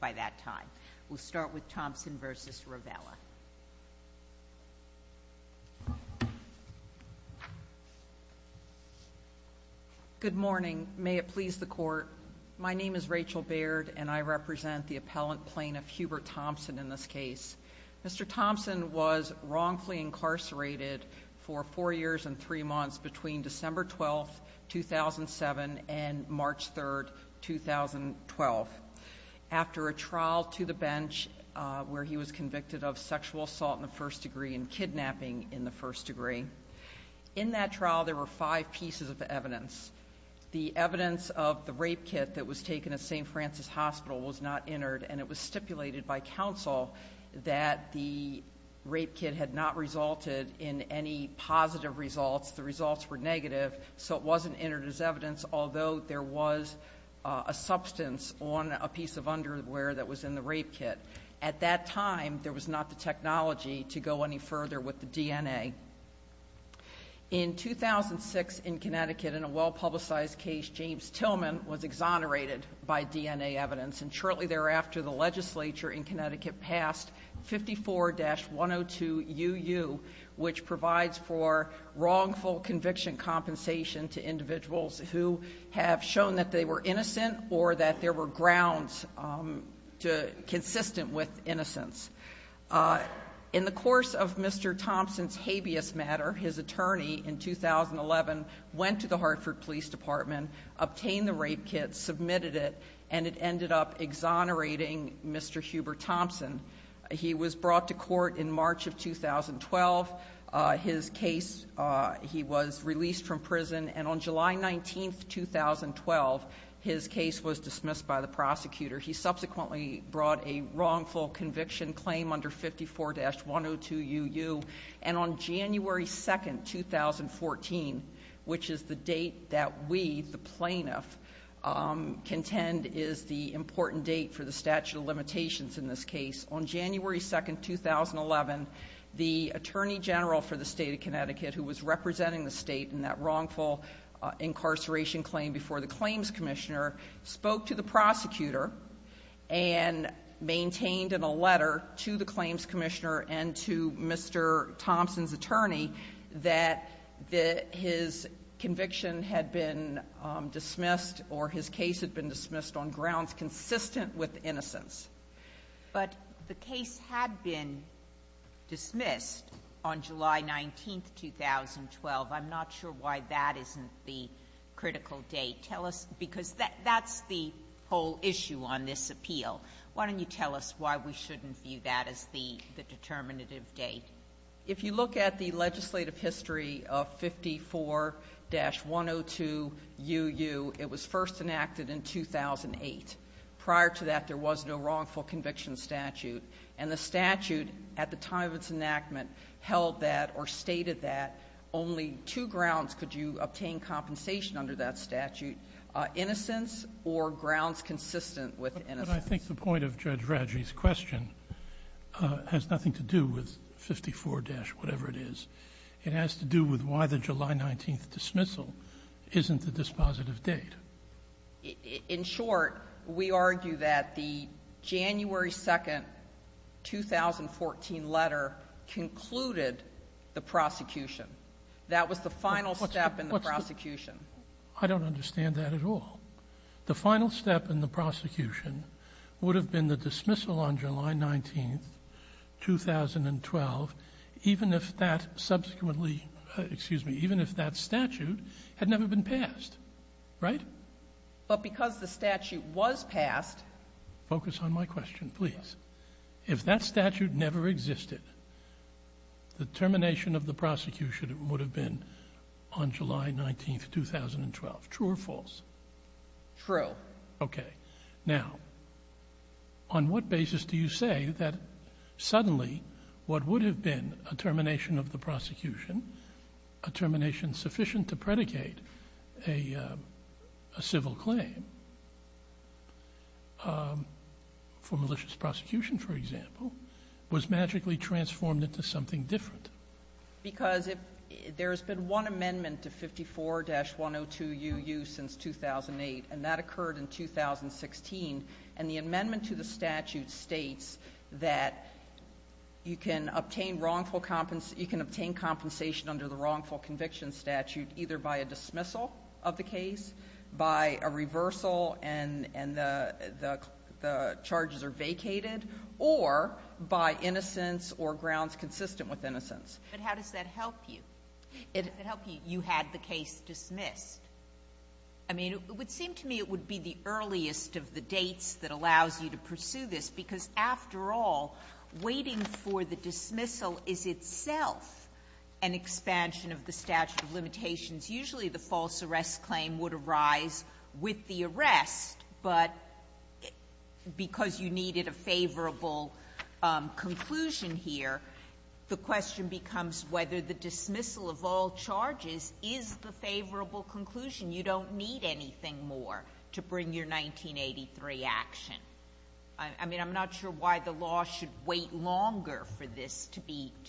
by that time. We'll start with Thompson versus Rovella. Good morning. May it please the court. My name is Rachel Baird and I represent the appellant plaintiff, Hubert Thompson. In this case, Mr Thompson was wrongfully incarcerated for four years and three months between December 12th, 2007 and March 3rd, 2012. After a trial to the bench where he was convicted of sexual assault in the first degree and kidnapping in the first degree. In that trial, there were five pieces of evidence. The evidence of the rape kit that was taken at ST Francis Hospital was not entered, and it was stipulated by counsel that the rape kit had not resulted in any positive results. The results were negative, so it wasn't entered as evidence, although there was a substance on a piece of underwear that was in the rape kit. At that time, there was not the technology to go any further with the DNA. In 2006, in Connecticut, in a well-publicized case, James Tillman was exonerated by DNA evidence, and shortly thereafter, the legislature in Connecticut passed 54-102UU, which provides for wrongful conviction compensation to individuals who have shown that they were innocent or that there were grounds consistent with innocence. In the course of Mr Thompson's habeas matter, his attorney in 2011 went to the Hartford Police Department, obtained the rape kit, submitted it, and it ended up exonerating Mr. Hubert Thompson. He was brought to court in 2012. His case, he was released from prison, and on July 19, 2012, his case was dismissed by the prosecutor. He subsequently brought a wrongful conviction claim under 54-102UU, and on January 2, 2014, which is the date that we, the plaintiff, contend is the important date for the statute of limitations in this The attorney general for the state of Connecticut, who was representing the state in that wrongful incarceration claim before the claims commissioner, spoke to the prosecutor and maintained in a letter to the claims commissioner and to Mr. Thompson's attorney that his conviction had been dismissed or his case had been dismissed on grounds consistent with innocence. But the case had been dismissed on July 19, 2012. I'm not sure why that isn't the critical date. Tell us, because that's the whole issue on this appeal. Why don't you tell us why we shouldn't view that as the determinative date? If you look at the legislative history of 54-102UU, it was first enacted in 2008. Prior to that, there was no wrongful conviction statute, and the statute, at the time of its enactment, held that or stated that only two grounds could you obtain compensation under that statute, innocence or grounds consistent with innocence. But I think the point of Judge Radji's question has nothing to do with 54- whatever it is. It has to do with why the July 19 dismissal isn't the dispositive date. In short, we argue that the January 2nd, 2014 letter concluded the prosecution. That was the final step in the prosecution. I don't understand that at all. The final step in the prosecution would have been the dismissal on July 19, 2012, even if that subsequently, excuse me, even if that statute had never been passed, right? But because the statute was passed- Focus on my question, please. If that statute never existed, the termination of the prosecution would have been on July 19, 2012. True or false? True. Okay. Now, on what basis do you say that suddenly what would have been a malicious prosecution, a termination sufficient to predicate a civil claim for malicious prosecution, for example, was magically transformed into something different? Because if there's been one amendment to 54-102UU since 2008, and that occurred in 2016, and the amendment to the statute states that you can obtain wrongful conviction statute either by a dismissal of the case, by a reversal and the charges are vacated, or by innocence or grounds consistent with innocence. But how does that help you? How does that help you, you had the case dismissed? I mean, it would seem to me it would be the earliest of the dates that allows you to pursue this, because after all, waiting for the dismissal is itself an expansion of the statute of limitations. Usually the false arrest claim would arise with the arrest, but because you needed a favorable conclusion here, the question becomes whether the dismissal of all charges is the favorable conclusion. You don't need anything more to bring your 1983 action. I mean, I'm not sure why the law should wait longer for this to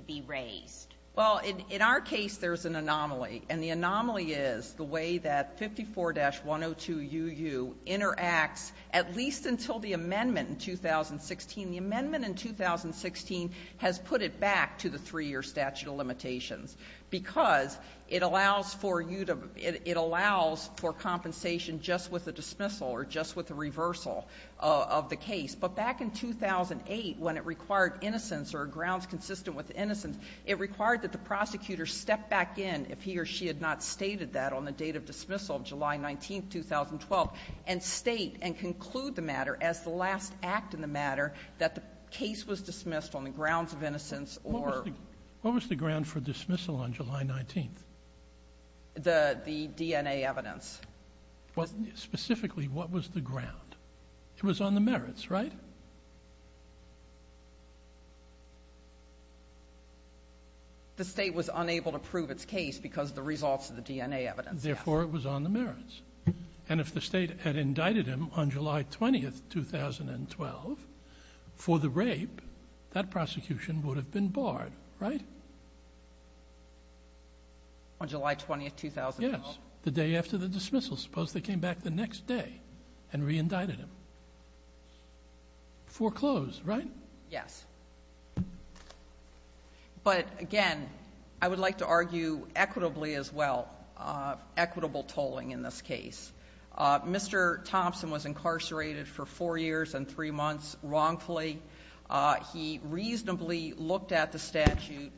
be raised. Well, in our case there's an anomaly, and the anomaly is the way that 54-102UU interacts at least until the amendment in 2016. The amendment in 2016 has put it back to the three-year statute of limitations, because it allows for you to – it allows for compensation just with a dismissal or just with a reversal of the case. But back in 2008, when it required innocence or grounds consistent with innocence, it required that the prosecutor step back in if he or she had not stated that on the date of dismissal, July 19th, 2012, and state and conclude the matter as the last act in the matter that the case was dismissed on the grounds of innocence or – What was the – what was the ground for dismissal on July 19th? The DNA evidence. Specifically, what was the ground? It was on the merits, right? The state was unable to prove its case because of the results of the DNA evidence, yes. Therefore, it was on the merits. And if the state had indicted him on July 20th, 2012, for the rape, that prosecution would have been barred, right? On July 20th, 2012? Yes, the day after the dismissal. Suppose they came back the next day and re-indicted him. Foreclosed, right? Yes. But again, I would like to argue equitably as well, equitable tolling in this case. Mr. Thompson was incarcerated for four years and three months wrongfully. He reasonably looked at the statute,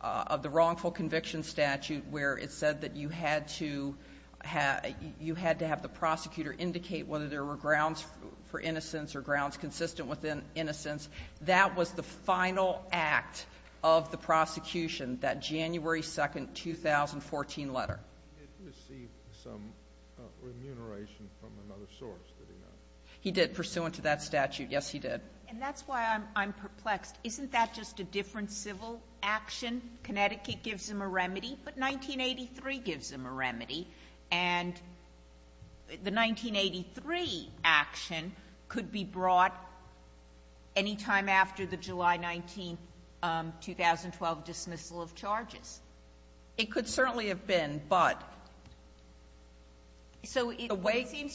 the wrongful conviction statute, where it said that you had to have the prosecutor indicate whether there were grounds for innocence or grounds consistent with innocence. That was the final act of the prosecution, that January 2nd, 2014 letter. Did he receive some remuneration from another source? He did, pursuant to that statute. Yes, he did. And that's why I'm perplexed. Isn't that just a different civil action? Connecticut gives him a remedy, but 1983 gives him a remedy. And the 1983 action could be brought anytime after the July 19th, 2012 dismissal of charges. It could certainly have been, but... ...proceeding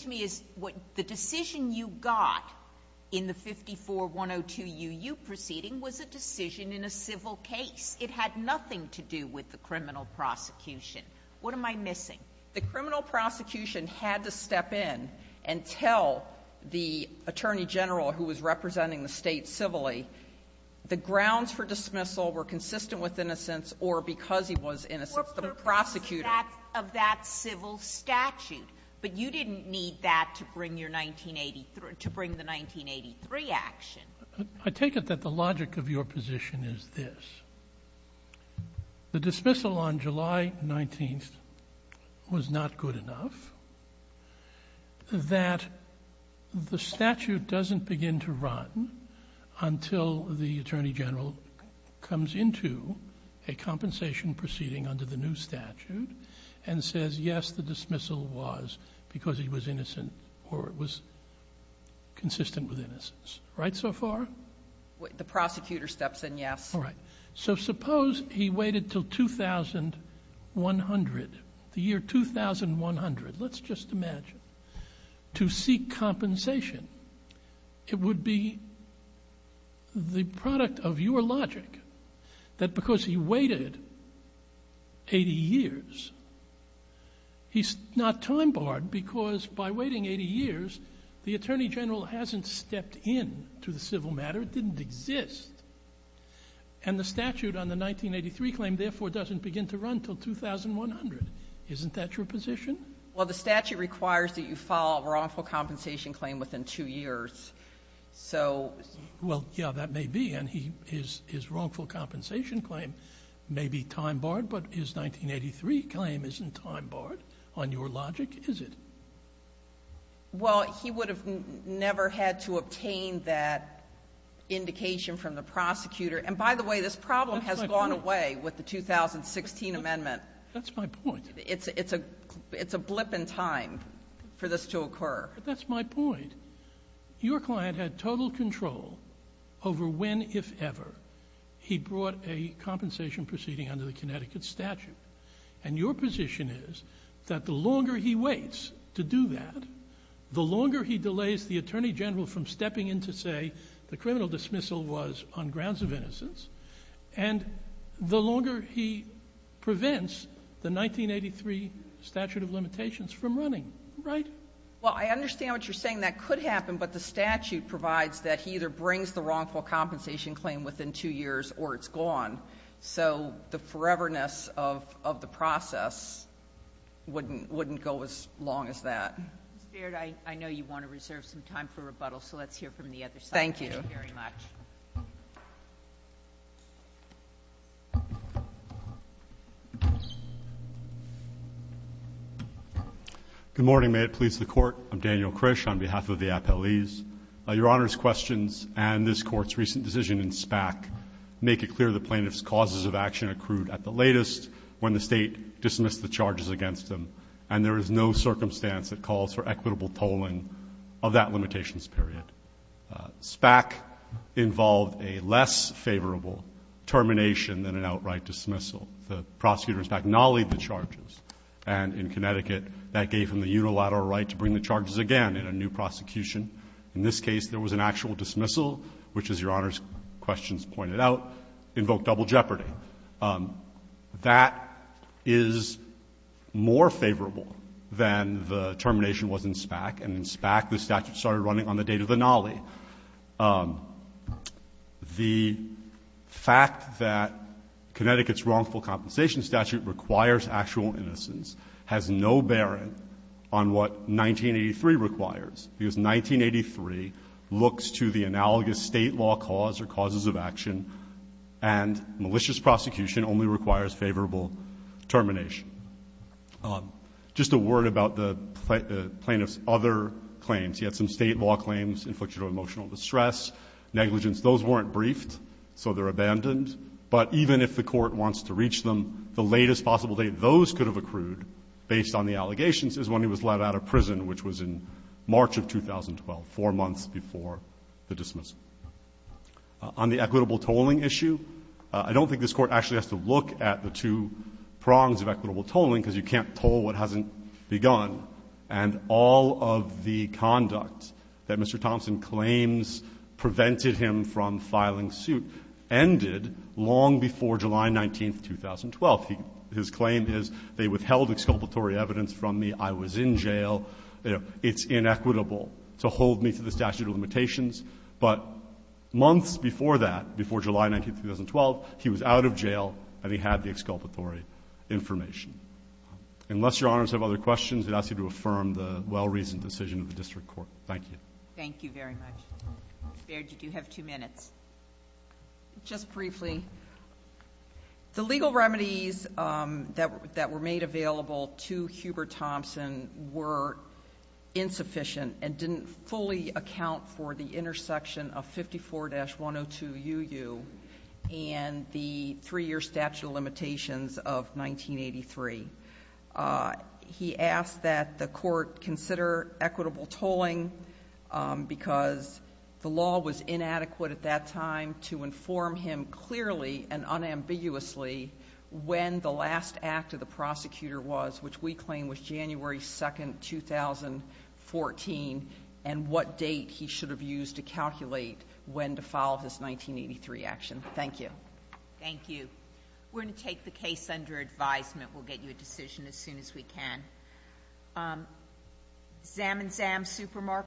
was a decision in a civil case. It had nothing to do with the criminal prosecution. What am I missing? The criminal prosecution had to step in and tell the Attorney General, who was representing the State civilly, the grounds for dismissal were consistent with innocence or because he was innocent. The prosecutor... ...of that civil statute. But you didn't need that to bring the 1983 action. I take it that the logic of your position is this. The dismissal on July 19th was not good enough, that the statute doesn't begin to run until the Attorney General comes into a compensation proceeding under the new statute and says, yes, the dismissal was because he was innocent or it was consistent with innocence. Right so far? The prosecutor steps in, yes. So suppose he waited until 2100, the year 2100, let's just imagine, to seek compensation. It would be the product of your logic that because he waited 80 years, he's not time barred because by waiting 80 years the Attorney General hasn't stepped in to the civil matter, it didn't exist. And the statute on the 1983 claim therefore doesn't begin to run until 2100. Isn't that your position? Well the statute requires that you file a wrongful compensation claim within two years. So... Well, yeah, that may be and his wrongful compensation claim may be time barred, but his 1983 claim isn't time barred on your logic, is it? Well, he would have never had to obtain that indication from the prosecutor, and by the way, this problem has gone away with the 2016 amendment. That's my point. It's a blip in time for this to occur. That's my point. Your client had total control over when, if ever, he brought a compensation proceeding under the Connecticut statute. And your position is that the longer he waits to do that, the longer he delays the Attorney General from stepping in to say the criminal dismissal was on grounds of innocence, and the longer he prevents the 1983 statute of limitations from running, right? Well, I understand what you're saying, that could happen, but the statute provides that he either brings the wrongful compensation claim within two years or it's gone. So the foreverness of the process wouldn't go as long as that. Ms. Baird, I know you want to reserve some time for rebuttal, so let's hear from the other side. Thank you. Good morning, may it please the Court. I'm Daniel Krish on behalf of the Justice Department. The questions and this Court's recent decision in SPAC make it clear the plaintiff's causes of action accrued at the latest when the state dismissed the charges against them, and there is no circumstance that calls for equitable tolling of that limitations period. SPAC involved a less favorable termination than an outright dismissal. The prosecutor in SPAC nollied the charges, and in Connecticut that gave him the unilateral right to bring the charges again in a new prosecution. In this case, there was an actual dismissal, which, as Your Honor's questions pointed out, invoked double jeopardy. That is more favorable than the termination was in SPAC, and in SPAC the statute started running on the date of the nollie. The fact that Connecticut's wrongful compensation statute requires actual innocence has no bearing on what 1983 requires, because 1983 looks to the analogous state law cause or causes of action and malicious prosecution only requires favorable termination. Just a word about the plaintiff's other claims. He had some state law claims, inflicted emotional distress, negligence. Those weren't briefed, so they're abandoned. But even if the Court wants to reach them, the latest possible date those could have accrued based on the allegations is when he was let out of prison, which was in March of 2012, four months before the dismissal. On the equitable tolling issue, I don't think this Court actually has to look at the two prongs of equitable tolling, because you can't toll what hasn't begun. And all of the conduct that Mr. Thompson claims prevented him from filing suit ended long before July 19, 2012. His claim is, they withheld exculpatory evidence from me, I was in jail. It's inequitable to hold me to the statute of limitations. But months before that, before July 19, 2012, he was out of jail, and he had the exculpatory information. Unless Your Honors have other questions, I'd ask you to affirm the well-reasoned decision of the District Court. Thank you. I'm afraid you do have two minutes. Just briefly, the legal remedies that were made available to Hubert Thompson were insufficient, and didn't fully account for the intersection of 54-102UU and the three-year statute of limitations of 1983. He asked that the Court consider equitable tolling, because the law was inadequate at that time to inform him clearly and unambiguously when the last act of the prosecutor was, which we claim was January 2, 2014, and what date he should have used to calculate when to file his 1983 action. Thank you. Thank you. We're going to take the case under advisement. We'll get you a decision as soon as we can. Zam and Zam Supermarket.